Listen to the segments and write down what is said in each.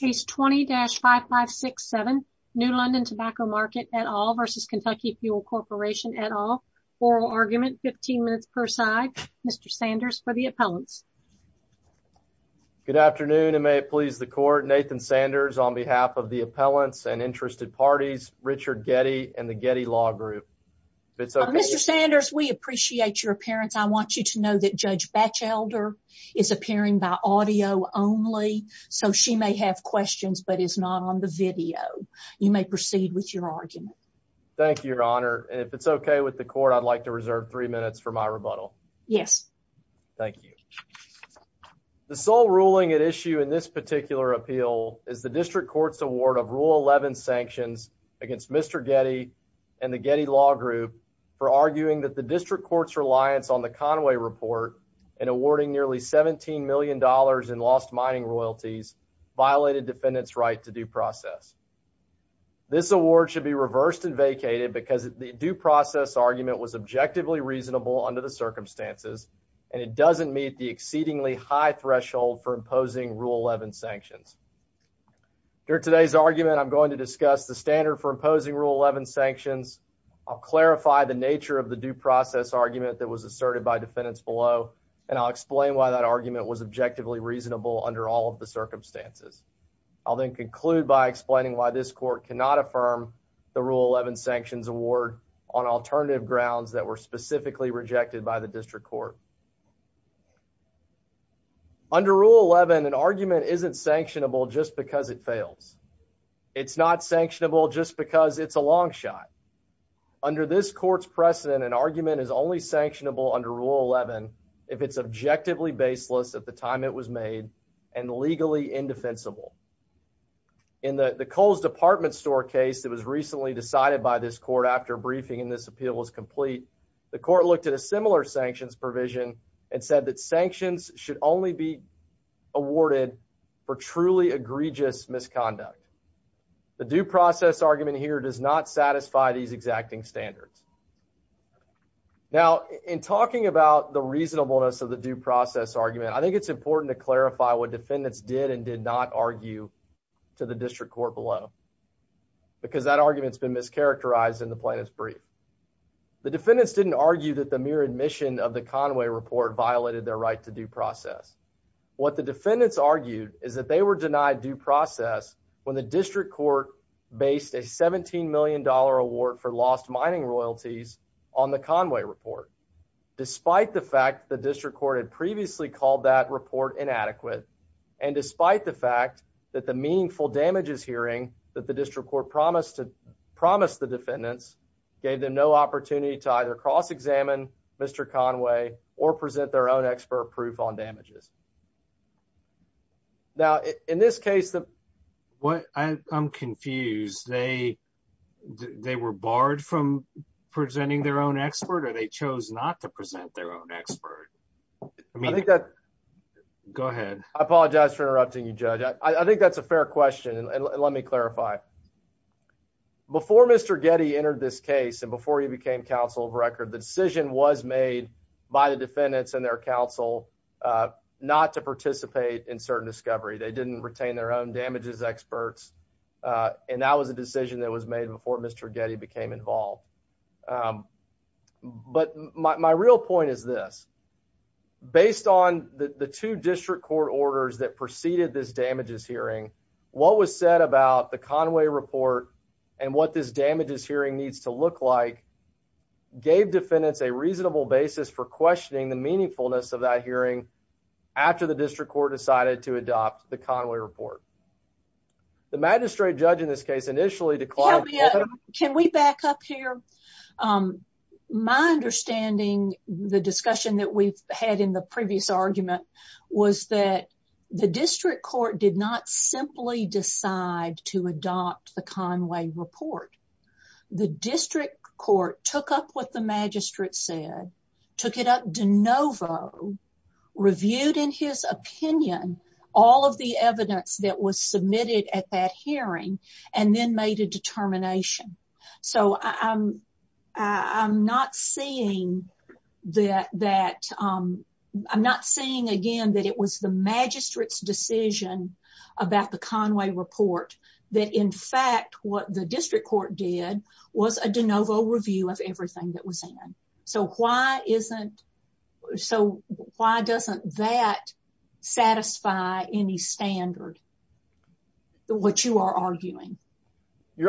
Case 20-5567, New London Tobacco Market et al. v. Kentucky Fuel Corporation et al. Oral argument, 15 minutes per side. Mr. Sanders for the appellants. Good afternoon and may it please the court. Nathan Sanders on behalf of the appellants and interested parties, Richard Getty and the Getty Law Group. Mr. Sanders, we appreciate your appearance. I want you to know that Judge Batchelder is appearing by audio only, so she may have questions but is not on the video. You may proceed with your argument. Thank you, Your Honor. If it's okay with the court, I'd like to reserve three minutes for my rebuttal. Yes. Thank you. The sole ruling at issue in this particular appeal is the district court's award of Rule 11 sanctions against Mr. Getty and the Getty Law Group for arguing that the district court's $17 million in lost mining royalties violated defendants' right to due process. This award should be reversed and vacated because the due process argument was objectively reasonable under the circumstances, and it doesn't meet the exceedingly high threshold for imposing Rule 11 sanctions. During today's argument, I'm going to discuss the standard for imposing Rule 11 sanctions. I'll clarify the nature of the due process argument that was objectively reasonable under all of the circumstances. I'll then conclude by explaining why this court cannot affirm the Rule 11 sanctions award on alternative grounds that were specifically rejected by the district court. Under Rule 11, an argument isn't sanctionable just because it fails. It's not sanctionable just because it's a long shot. Under this court's precedent, an argument is only sanctionable under Rule 11 if it's objectively baseless at the time it was made and legally indefensible. In the Kohl's Department Store case that was recently decided by this court after briefing and this appeal was complete, the court looked at a similar sanctions provision and said that sanctions should only be awarded for truly egregious misconduct. The due process argument here does not satisfy these exacting standards. Now, in talking about the reasonableness of the due process argument, I think it's important to clarify what defendants did and did not argue to the district court below because that argument's been mischaracterized in the plaintiff's brief. The defendants didn't argue that the mere admission of the Conway report violated their right to due process. What the defendants argued is that they were denied due process when the district court based a $17 million award for lost mining royalties on the Conway report, despite the fact the district court had previously called that report inadequate, and despite the fact that the meaningful damages hearing that the district court promised the defendants gave them no opportunity to either cross-examine Mr. Conway or present their own on damages. Now, in this case, I'm confused. They were barred from presenting their own expert or they chose not to present their own expert? Go ahead. I apologize for interrupting you, Judge. I think that's a fair question and let me clarify. Before Mr. Getty entered this case and became counsel of record, the decision was made by the defendants and their counsel not to participate in certain discovery. They didn't retain their own damages experts and that was a decision that was made before Mr. Getty became involved. But my real point is this. Based on the two district court orders that preceded this damages hearing, what was said about the Conway report and what this damages hearing needs to look like gave defendants a reasonable basis for questioning the meaningfulness of that hearing after the district court decided to adopt the Conway report. The magistrate judge in this case initially declined. Can we back up here? My understanding, the discussion that we've had in the previous argument was that the district court did not simply decide to adopt the Conway report. The district court took up what the magistrate said, took it up de novo, reviewed in his opinion all of the evidence that was submitted at that hearing and then made a determination. So I'm not seeing again that it was the magistrate's decision about the Conway report that in fact what the district court did was a de novo review of your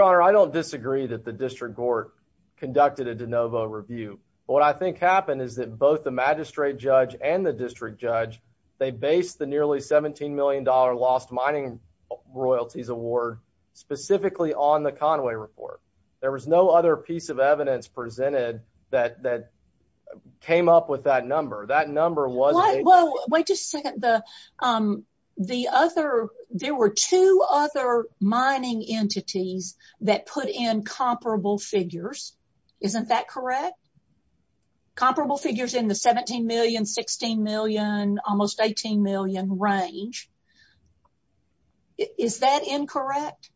honor. I don't disagree that the district court conducted a de novo review. What I think happened is that both the magistrate judge and the district judge, they based the nearly 17 million dollar lost mining royalties award specifically on the Conway report. There was no other piece of evidence presented that that came up with that number. That number was, well, wait just a second. There were two other mining entities that put in comparable figures. Isn't that correct? Comparable figures in the 17 million, 16 million, almost 18 million range. Is that incorrect?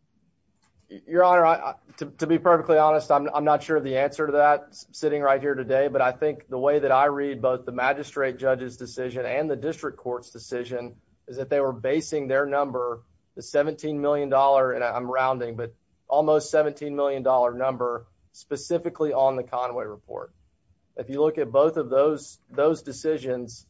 Your honor, to be perfectly honest, I'm not sure the answer to that sitting right here today. But I think the way that I read both the magistrate judge's decision and the district court's decision is that they were basing their number, the 17 million dollar, and I'm rounding, but almost 17 million dollar number specifically on the Conway report. If you look at both of those decisions,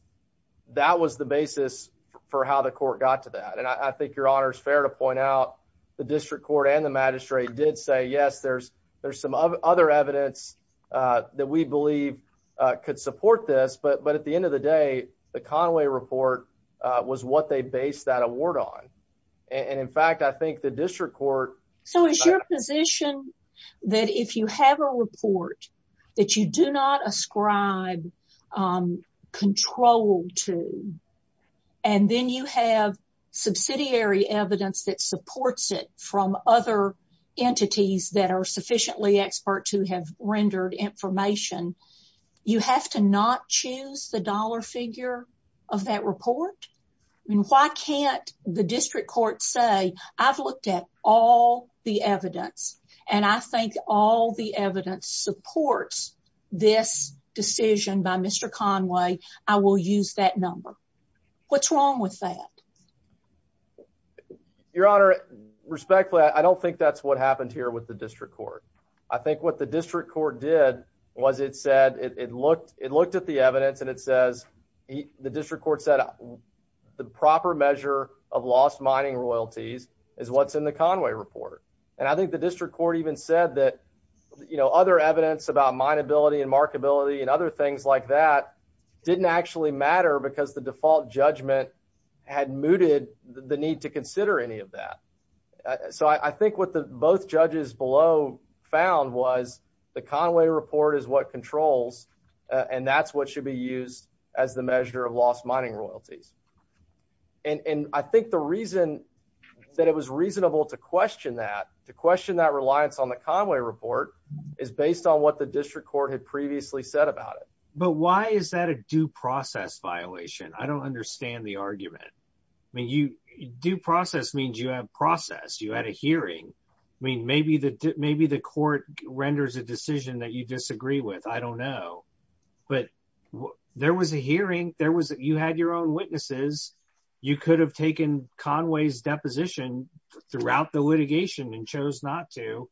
that was the basis for how the court got to that. And I think your honor is fair to point out the district court and the magistrate did say, yes, there's some other evidence that we believe could support this. But at the end of the day, the Conway report was what they based that award on. And in fact, I think the district court... So is your position that if you have a report that you do not ascribe control to, and then you have subsidiary evidence that supports it from other entities that are sufficiently experts who have rendered information, you have to not choose the dollar figure of that report? I mean, why can't the district court say, I've looked at all the evidence and I think all the evidence supports this decision by Mr. Conway, I will use that number. What's wrong with that? Your honor, respectfully, I don't think that's what happened here with the district court. I think what the district court did was it said it looked, it looked at the evidence and it says the district court said the proper measure of lost mining royalties is what's in the Conway report. And I think the district court even said that, you know, other evidence about mineability and markability and other things like that didn't actually matter because the default judgment had mooted the need to consider any of that. So I think what the both judges below found was the Conway report is what controls and that's what should be used as the measure of lost mining royalties. And I think the reason that it was reasonable to question that, to question that reliance on the Conway report is based on what the district court had previously said about it. But why is that a due process violation? I don't understand the argument. I mean, due process means you have process, you had a hearing. I mean, maybe the court renders a decision that you disagree with. I don't know. But there was a hearing, you had your own witnesses, you could have taken Conway's deposition throughout the litigation and chose not to.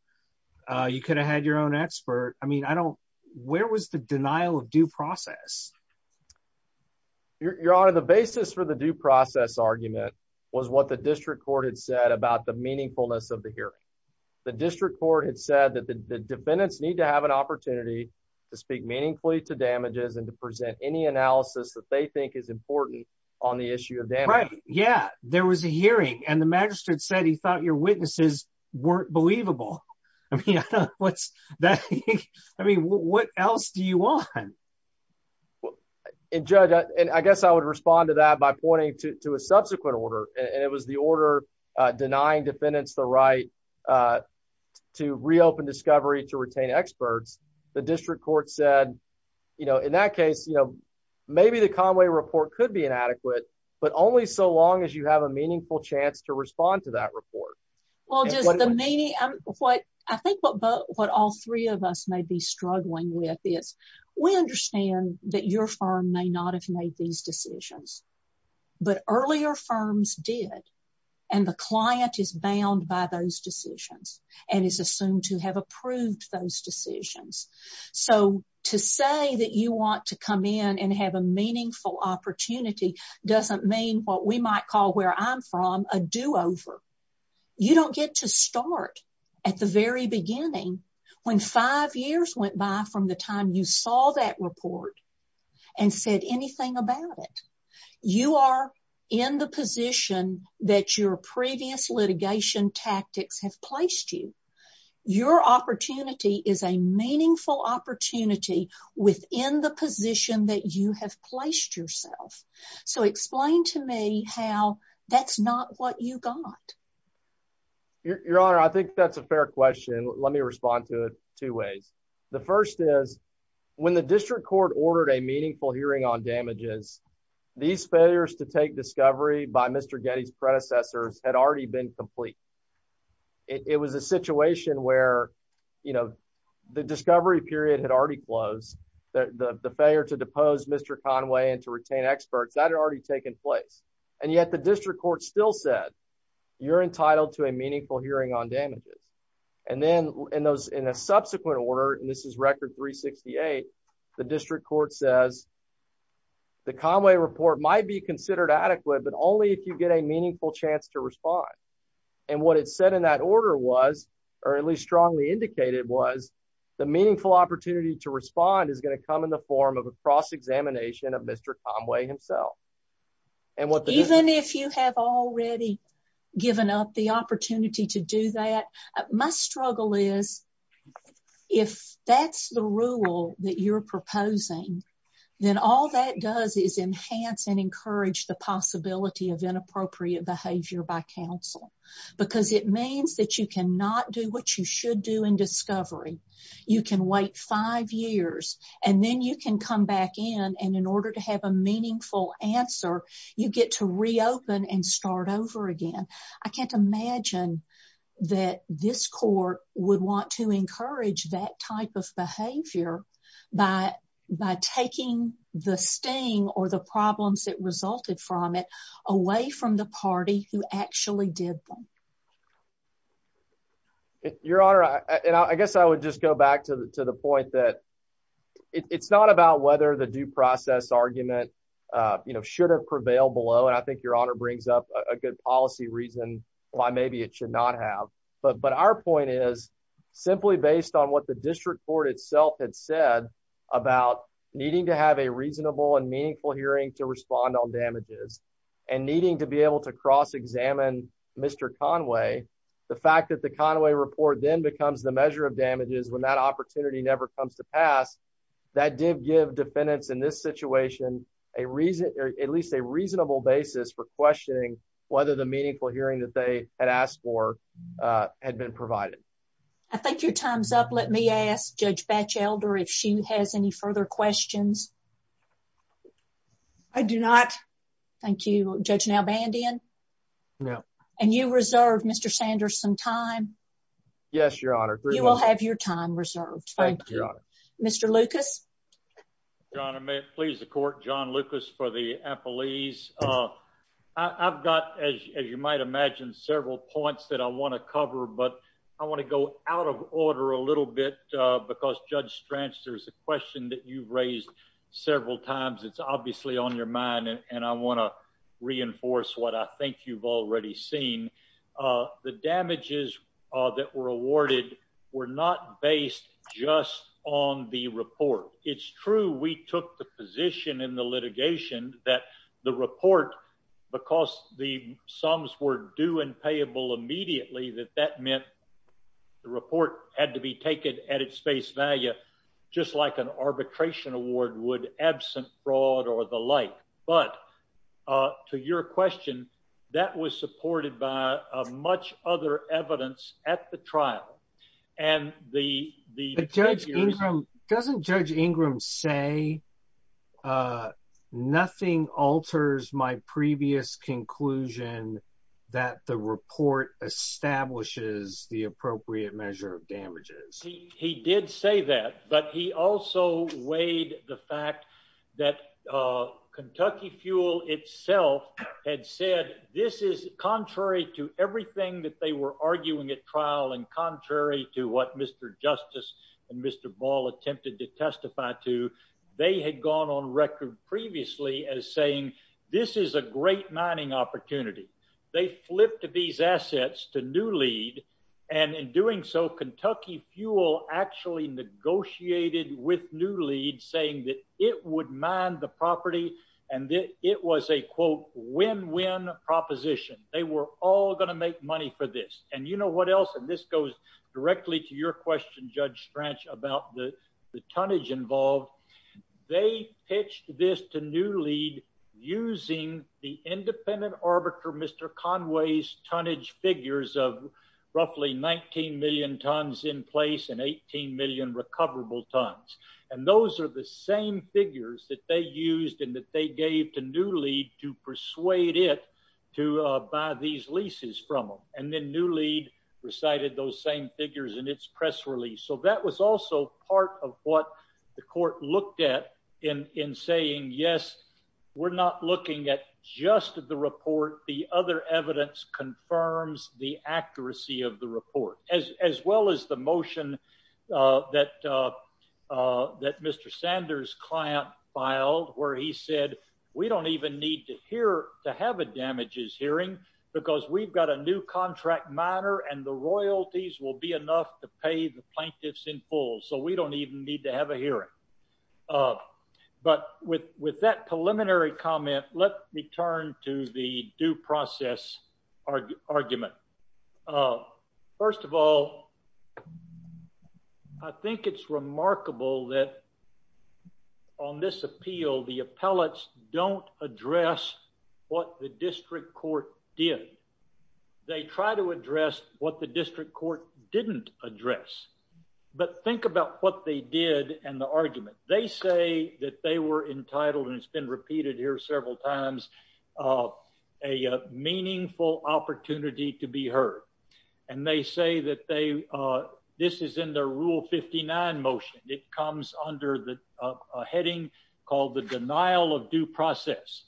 You could have had your own expert. I mean, I don't, where was the denial of due process? Your Honor, the basis for the due process argument was what the district court had said about the meaningfulness of the hearing. The district court had said that the defendants need to have an opportunity to speak meaningfully to damages and to present any analysis that they think is important on the issue of damage. Right. Yeah. There was a hearing and the magistrate said he thought your witnesses weren't believable. I mean, what's that? I mean, what else do you want? And Judge, and I guess I would respond to that by pointing to a subsequent order. And it was the order denying defendants the right to reopen discovery to retain experts. The district court said, you know, in that case, you know, maybe the Conway report could be inadequate, but only so long as you have a meaningful chance to respond to that report. Well, just the meaning of what I think what both what all three of us may be struggling with is we understand that your firm may not have made these decisions. But earlier firms did. And the client is bound by those decisions and is assumed to have approved those decisions. So to say that you want to come in and have a meaningful opportunity doesn't mean what we might call where I'm from a do over. You don't get to start at the very beginning, when five years went by from the time you saw that report and said anything about it. You are in the position that your previous litigation tactics have placed you. Your opportunity is a meaningful opportunity within the position that you have placed yourself. So explain to me how that's not what you got. Your Honor, I think that's a fair question. Let me respond to it two ways. The first is when the district court ordered a meaningful hearing on damages. These failures to take discovery by Mr. Getty's predecessors had already been complete. It was a situation where, you know, the discovery period had already closed, the failure to depose Mr. Conway and to retain experts that had already taken place. And yet the district court still said, you're entitled to a meaningful hearing on damages. And then in those in a subsequent order, and this is record 368, the district court says, the Conway report might be considered adequate, but only if you get a meaningful chance to respond. And what it said in that order was, or at least strongly indicated was, the meaningful opportunity to respond is going to come in the form of a cross-examination of Mr. Conway himself. Even if you have already given up the opportunity to do that, my struggle is if that's the rule that you're proposing, then all that does is enhance and encourage the because it means that you cannot do what you should do in discovery. You can wait five years and then you can come back in. And in order to have a meaningful answer, you get to reopen and start over again. I can't imagine that this court would want to encourage that type of behavior by taking the sting or the problems that resulted from it away from the party who actually did them. Your Honor, and I guess I would just go back to the point that it's not about whether the due process argument should have prevailed below, and I think Your Honor brings up a good policy reason why maybe it should not have. But our point is simply based on what the district court itself had said about needing to have a reasonable and Mr. Conway. The fact that the Conway report then becomes the measure of damages when that opportunity never comes to pass, that did give defendants in this situation at least a reasonable basis for questioning whether the meaningful hearing that they had asked for had been provided. I think your time's up. Let me ask Judge Batchelder if she has any further questions. I do not. Thank you, Judge Nalbandian. No. And you reserve Mr. Sanders some time. Yes, Your Honor. You will have your time reserved. Thank you, Your Honor. Mr. Lucas. Your Honor, may it please the court, John Lucas for the appellees. I've got, as you might imagine, several points that I want to cover, but I want to go out of order a little bit because Judge Stranch, there's a question that you've raised several times. It's obviously on your mind, and I want to reinforce what I think you've already seen. The damages that were awarded were not based just on the report. It's true we took the position in the litigation that the report, because the sums were due and payable immediately, that that meant the report had to be taken at its face value, just like an arbitration award would absent fraud or the like. But to your question, that was supported by much other evidence at the trial. And the judge, doesn't Judge Ingram say, nothing alters my previous conclusion that the report establishes the appropriate measure of damages? He did say that, but he also weighed the fact that Kentucky Fuel itself had said this is contrary to everything that they were arguing at trial and contrary to what Mr. Justice and Mr. Ball attempted to testify to. They had gone on record previously as saying this is a great mining opportunity. They flipped these assets to New Lead, and in doing so, Kentucky Fuel actually negotiated with New Lead saying that it would mine the property, and it was a, quote, win-win proposition. They were all going to make money for this. And you know what else? And this goes directly to your question, Judge Stranch, about the tonnage involved. They pitched this to New Lead using the independent arbiter, Mr. Conway's, tonnage figures of roughly 19 million tons in place and 18 million recoverable tons. And those are the same figures that they used and that they gave to New Lead to persuade it to buy these leases from them. And then New Lead recited those same figures in its press release. So that was also part of what the court looked at in saying, yes, we're not looking at just the report. The other evidence confirms the accuracy of the report, as well as the motion that Mr. Sanders' client filed, where he said, we don't even need to have a damages hearing because we've got a new contract miner, and the royalties will be enough to pay the plaintiffs in full. So we don't even need to have a hearing. But with that preliminary comment, let me turn to the due process argument. First of all, I think it's remarkable that on this appeal, the appellates don't address what the district court did. They try to address what the district court didn't address. But think about what they did and the argument. They say that they were entitled, and it's been repeated here several times, a meaningful opportunity to be heard. And they say that this is in their Rule 59 motion. It comes under a heading called the denial of due process.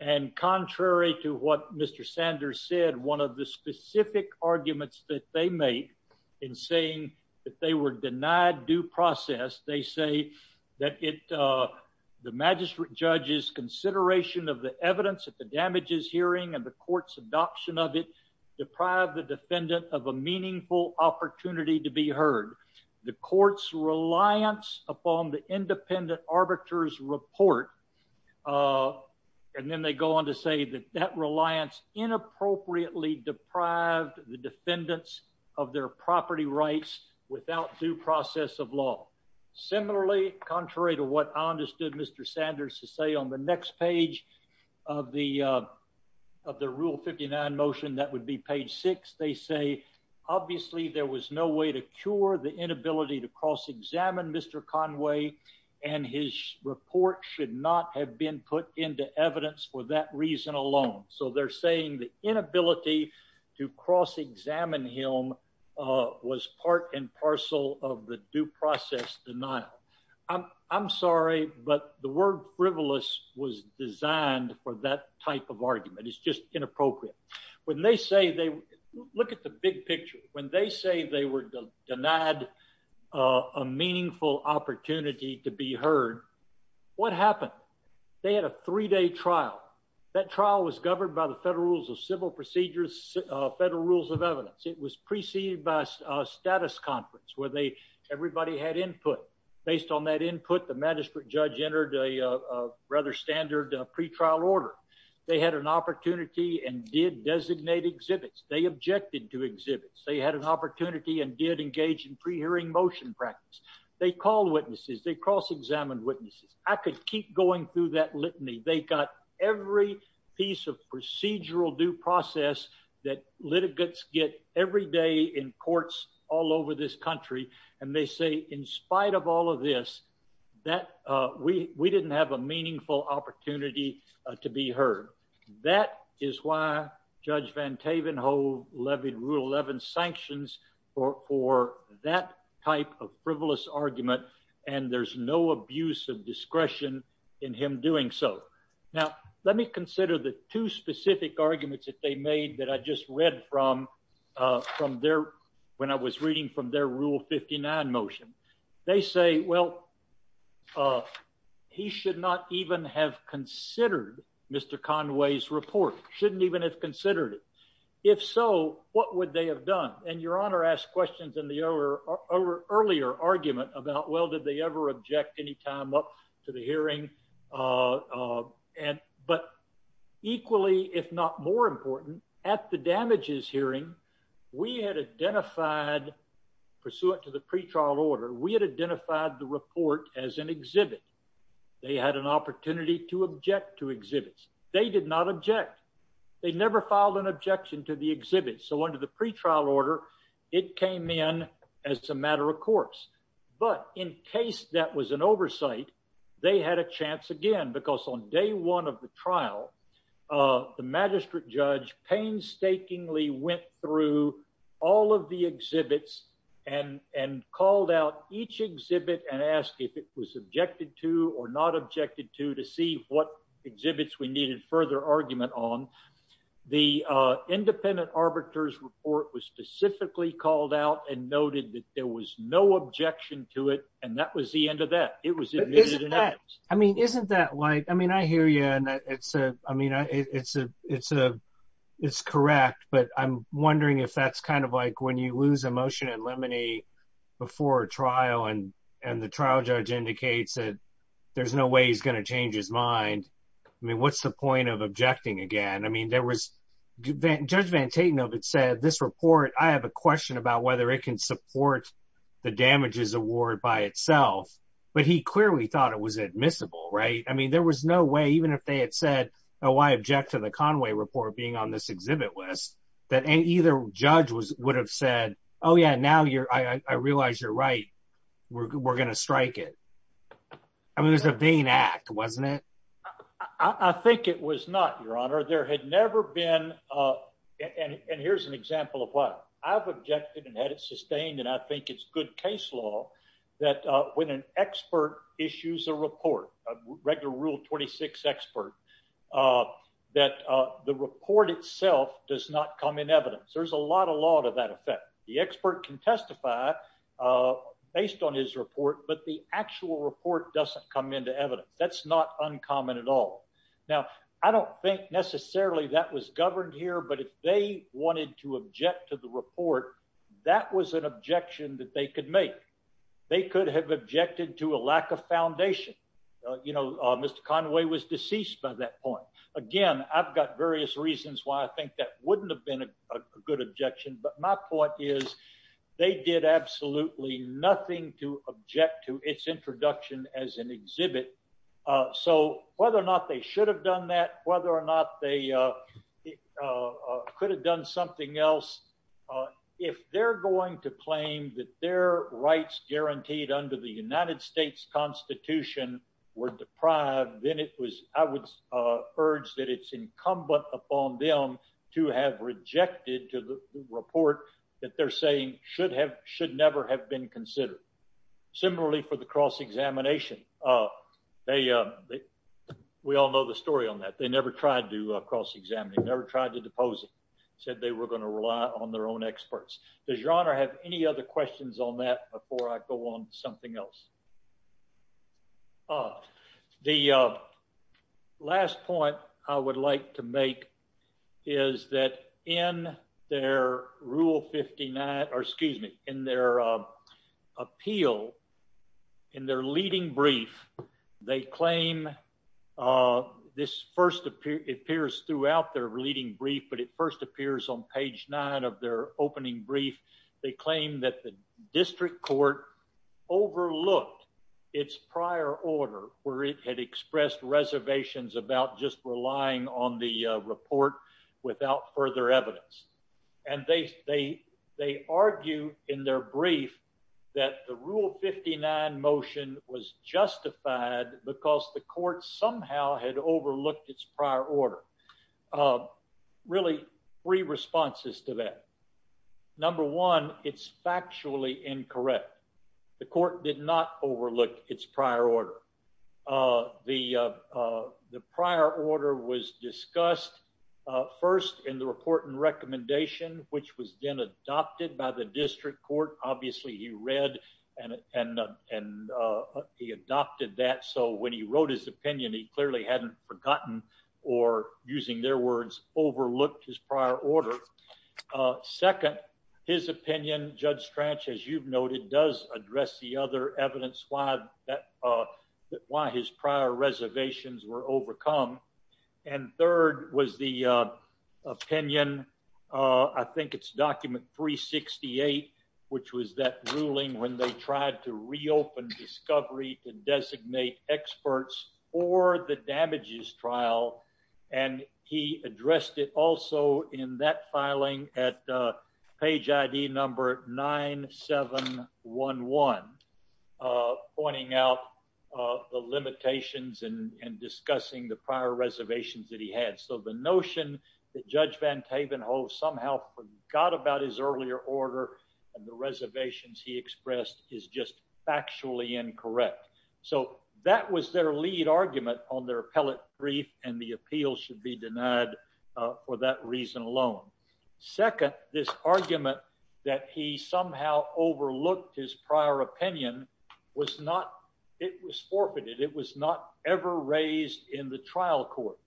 And contrary to what Mr. Sanders said, one of the specific arguments that they make in saying that they were denied due process, they say that the magistrate judge's consideration of the evidence of the damages hearing and the court's adoption of it deprived the defendant of a meaningful opportunity to be heard. The court's reliance upon the independent arbiters' report, and then they go on to say that that reliance inappropriately deprived the of their property rights without due process of law. Similarly, contrary to what I understood Mr. Sanders to say on the next page of the of the Rule 59 motion that would be page six, they say obviously there was no way to cure the inability to cross-examine Mr. Conway and his report should not have been put into evidence for that reason alone. So they're saying the inability to cross-examine him was part and parcel of the due process denial. I'm sorry, but the word frivolous was designed for that type of argument. It's just inappropriate. When they say they, look at the big picture. When they say they were denied a meaningful opportunity to be heard, what happened? They had a three-day trial. That trial was governed by the Federal Rules of Civil Procedures, Federal Rules of Evidence. It was preceded by a status conference where they, everybody had input. Based on that input, the magistrate judge entered a rather standard pretrial order. They had an opportunity and did designate exhibits. They objected to exhibits. They had an opportunity and did engage in pre-hearing motion practice. They called witnesses. They cross-examined witnesses. I could keep going through that litany. They got every piece of due process that litigants get every day in courts all over this country. And they say, in spite of all of this, that we didn't have a meaningful opportunity to be heard. That is why Judge Van Tavenhoe levied Rule 11 sanctions for that type of frivolous argument. And there's no abuse of I just read from when I was reading from their Rule 59 motion. They say, well, he should not even have considered Mr. Conway's report. Shouldn't even have considered it. If so, what would they have done? And Your Honor asked questions in the earlier argument about, well, did they ever object any time up to the hearing? But equally, if not more important, at the damages hearing, we had identified, pursuant to the pretrial order, we had identified the report as an exhibit. They had an opportunity to object to exhibits. They did not object. They never filed an objection to the exhibit. So under the pretrial order, it came in as a matter of course. But in case that was an oversight, they had a chance again, because on day one of the trial, the magistrate judge painstakingly went through all of the exhibits and called out each exhibit and asked if it was objected to or not objected to to see what exhibits we needed further argument on. The independent arbiters report was specifically called out and noted that there was no objection to it. And that was the end of that. It was that. I mean, isn't that like I mean, I hear you. And it's a I mean, it's a it's a it's correct. But I'm wondering if that's kind of like when you lose emotion and lemony before trial and and the trial judge indicates that there's no way he's going to change his mind. I mean, what's the point of objecting again? I mean, there was Judge Van Taten of it said this report. I have a question about whether it can support the damages award by itself. But he clearly thought it was admissible, right? I mean, there was no way even if they had said, Oh, I object to the Conway report being on this exhibit list that any either judge was would have said, Oh, yeah, now you're I realize you're right. We're gonna strike it. I mean, there's a vain act, wasn't it? I think it was not your honor, there had never been. And here's an example of what I've objected had it sustained. And I think it's good case law that when an expert issues a report, regular Rule 26 expert that the report itself does not come in evidence. There's a lot of law to that effect. The expert can testify based on his report, but the actual report doesn't come into evidence. That's not uncommon at all. Now, I don't think necessarily that was an objection that they could make. They could have objected to a lack of foundation. You know, Mr. Conway was deceased by that point. Again, I've got various reasons why I think that wouldn't have been a good objection. But my point is, they did absolutely nothing to object to its introduction as an exhibit. So whether or not they should have done that, whether or not they could have done something else, if they're going to claim that their rights guaranteed under the United States Constitution were deprived, then it was I would urge that it's incumbent upon them to have rejected to the report that they're saying should have should never have been considered. Similarly, for the cross examination. They, we all know the story on that they never tried to examining, never tried to depose said they were going to rely on their own experts. Does your honor have any other questions on that before I go on something else? Uh, the last point I would like to make is that in their rule 59 or excuse me in their appeal, in their leading brief, they claim this first appear appears throughout their leading brief, but it first appears on page nine of their opening brief, they claim that the district court overlooked its prior order where it had expressed reservations about just relying on the report without further evidence. And they, they, they argue in their brief, that the rule 59 motion was justified because the court somehow had overlooked its prior order. Really free responses to that. Number one, it's factually incorrect. The court did not discuss, uh, first in the report and recommendation, which was then adopted by the district court. Obviously he read and, and, uh, and, uh, he adopted that. So when he wrote his opinion, he clearly hadn't forgotten or using their words, overlooked his prior order. Uh, second, his opinion judge trench, as you've noted, does address the other evidence why that, uh, why his prior reservations were overcome. And third was the, uh, opinion. Uh, I think it's document three 68, which was that ruling when they tried to reopen discovery to designate experts or the damages trial. And he addressed it also in that filing at, uh, page ID number nine, seven, one, one, uh, pointing out, uh, the limitations and discussing the prior reservations that he had. So the notion that judge van Tavenhoe somehow got about his earlier order and the reservations he expressed is just factually incorrect. So that was their lead argument on their appellate brief. And the appeal should be denied for that reason alone. Second, this argument that he somehow overlooked his prior opinion was not, it was forfeited. It was not ever raised in the trial court.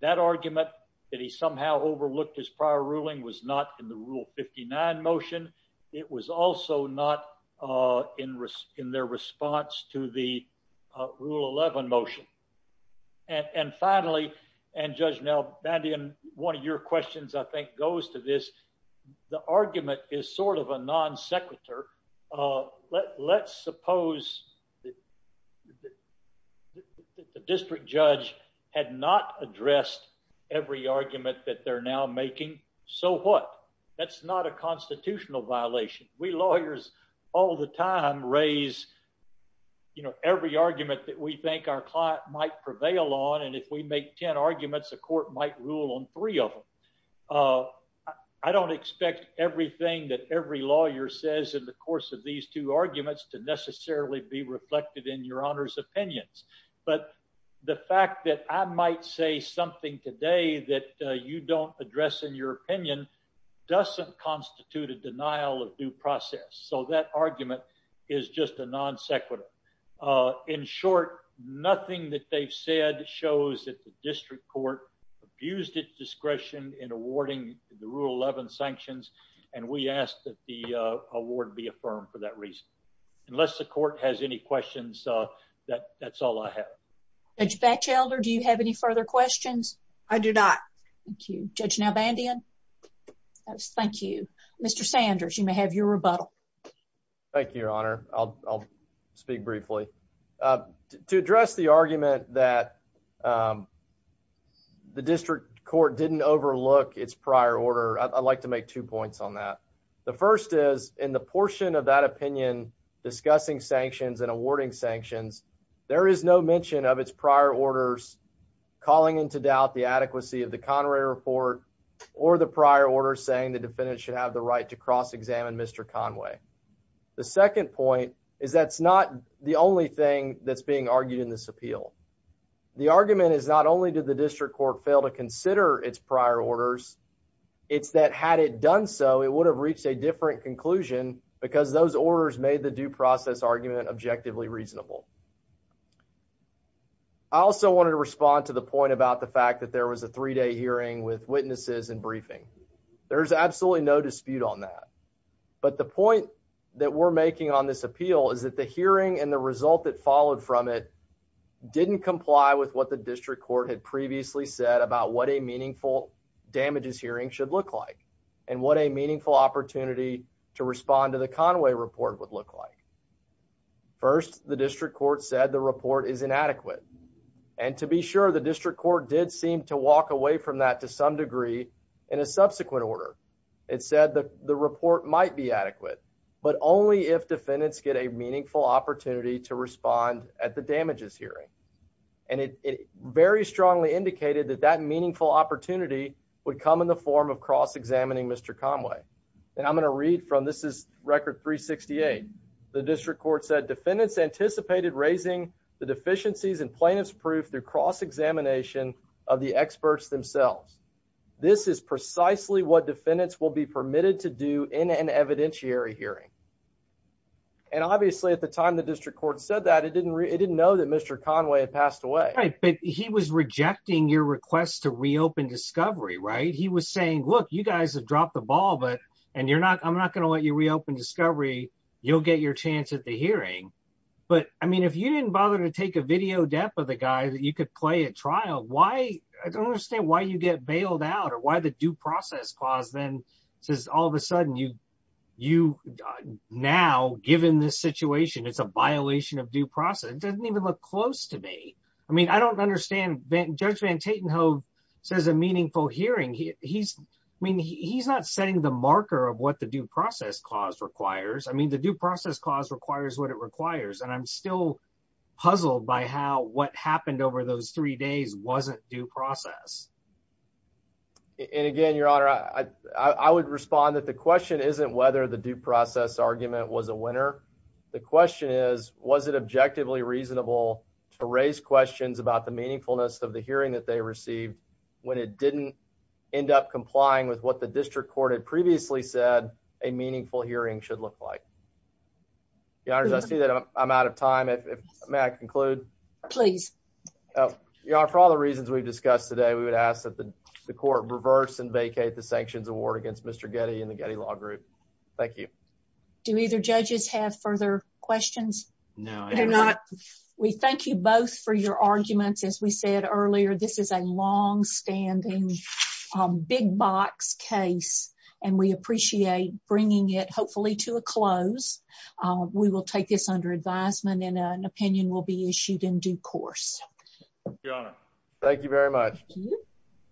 That argument that he somehow overlooked his prior ruling was not in the rule 59 motion. It was also not, uh, in risk in their response to the rule 11 motion. And finally, and judge now bandian, one of your questions I think goes to this. The argument is sort of a non sequitur. Uh, let's suppose that the district judge had not addressed every argument that they're now making. So what? That's not a constitutional violation. We lawyers all the time raise, you know, every argument that we think our client might prevail on. And if we make 10 arguments, the court might rule on three of them. Uh, I don't expect everything that every lawyer says in the course of these two arguments to necessarily be reflected in your honors opinions. But the fact that I might say something today that you don't address in your opinion doesn't constitute a denial of due process. So that argument is just a non sequitur. Uh, in short, nothing that they've said shows that the district court abused its discretion in awarding the rule 11 sanctions. And we asked that the, uh, award be affirmed for that reason. Unless the court has any questions, uh, that that's all I have. Judge Batchelder, do you have any further questions? I do not. Thank you. Judge Nalbandian. Thank you. Mr. Sanders, you may have your rebuttal. Thank you, Your Honor. I'll speak briefly, uh, to address the argument that, um, the district court didn't overlook its prior order. I'd like to make two points on that. The first is in the portion of that opinion, discussing sanctions and awarding sanctions, there is no mention of its prior orders, calling into doubt the adequacy of the Conway report or the prior order saying the defendant should have the right to cross examine Mr Conway. The second point is that's not the only thing that's being argued in this appeal. The argument is not only did the district court fail to consider its prior orders, it's that had it done so, it would have reached a different conclusion because those orders made the due process argument objectively reasonable. I also wanted to respond to the point about the fact that there was a three day hearing with witnesses and briefing. There's absolutely no dispute on that. But the point that we're making on this appeal is that the hearing and the result that followed from it didn't comply with what the district court had previously said about what a meaningful damages hearing should look like and what a meaningful opportunity to respond to the Conway report would look like. First, the district court said the report is inadequate. And to be sure, the district court did seem to walk away from that to some degree. In a subsequent order, it said that the report might be adequate, but only if defendants get a meaningful opportunity to respond at the damages hearing. And it very strongly indicated that that meaningful opportunity would come in the form of cross examining Mr. Conway. And I'm going to read from this is record 368. The district court said defendants anticipated raising the deficiencies and plaintiffs proof through cross examination of the experts themselves. This is precisely what defendants will be permitted to do in an evidentiary hearing. And obviously, at the time, the district court said that it didn't it didn't know that Mr. Conway had passed away, but he was rejecting your request to reopen discovery, right? He was saying, Look, you guys have dropped the ball, but and you're not, I'm not going to let you reopen discovery, you'll get your chance at the hearing. But I mean, if you didn't bother to take a video depth of the guy that you could play at trial, why I don't understand why you get bailed out or why the due process clause then says all of a sudden you, you now given this situation, it's a violation of due process doesn't even look close to me. I mean, I don't understand that Judge van Tatenhove says a meaningful hearing. He's I mean, he's not setting the marker of what the due process clause requires. I mean, the due process clause requires what it requires. And I'm still puzzled by how what happened over those three days wasn't due process. And again, Your Honor, I would respond that the question isn't whether the due process argument was a winner. The question is, was it objectively reasonable to raise questions about the meaningfulness of the hearing that they received when it didn't end up complying with what the district court had previously said a meaningful hearing should look like? Your Honor, I see that I'm out of time. May I conclude? Please. Your Honor, for all the reasons we've discussed today, we would ask that the court reverse and vacate the sanctions award against Mr. Getty and the Getty Law Group. Thank you. Do either judges have further questions? No, I do not. We thank you both for your arguments. As we said earlier, this is a long standing big box case, and we appreciate bringing it hopefully to a close. We will take this under advisement and an opinion will be issued in due course. Your Honor. Thank you very much.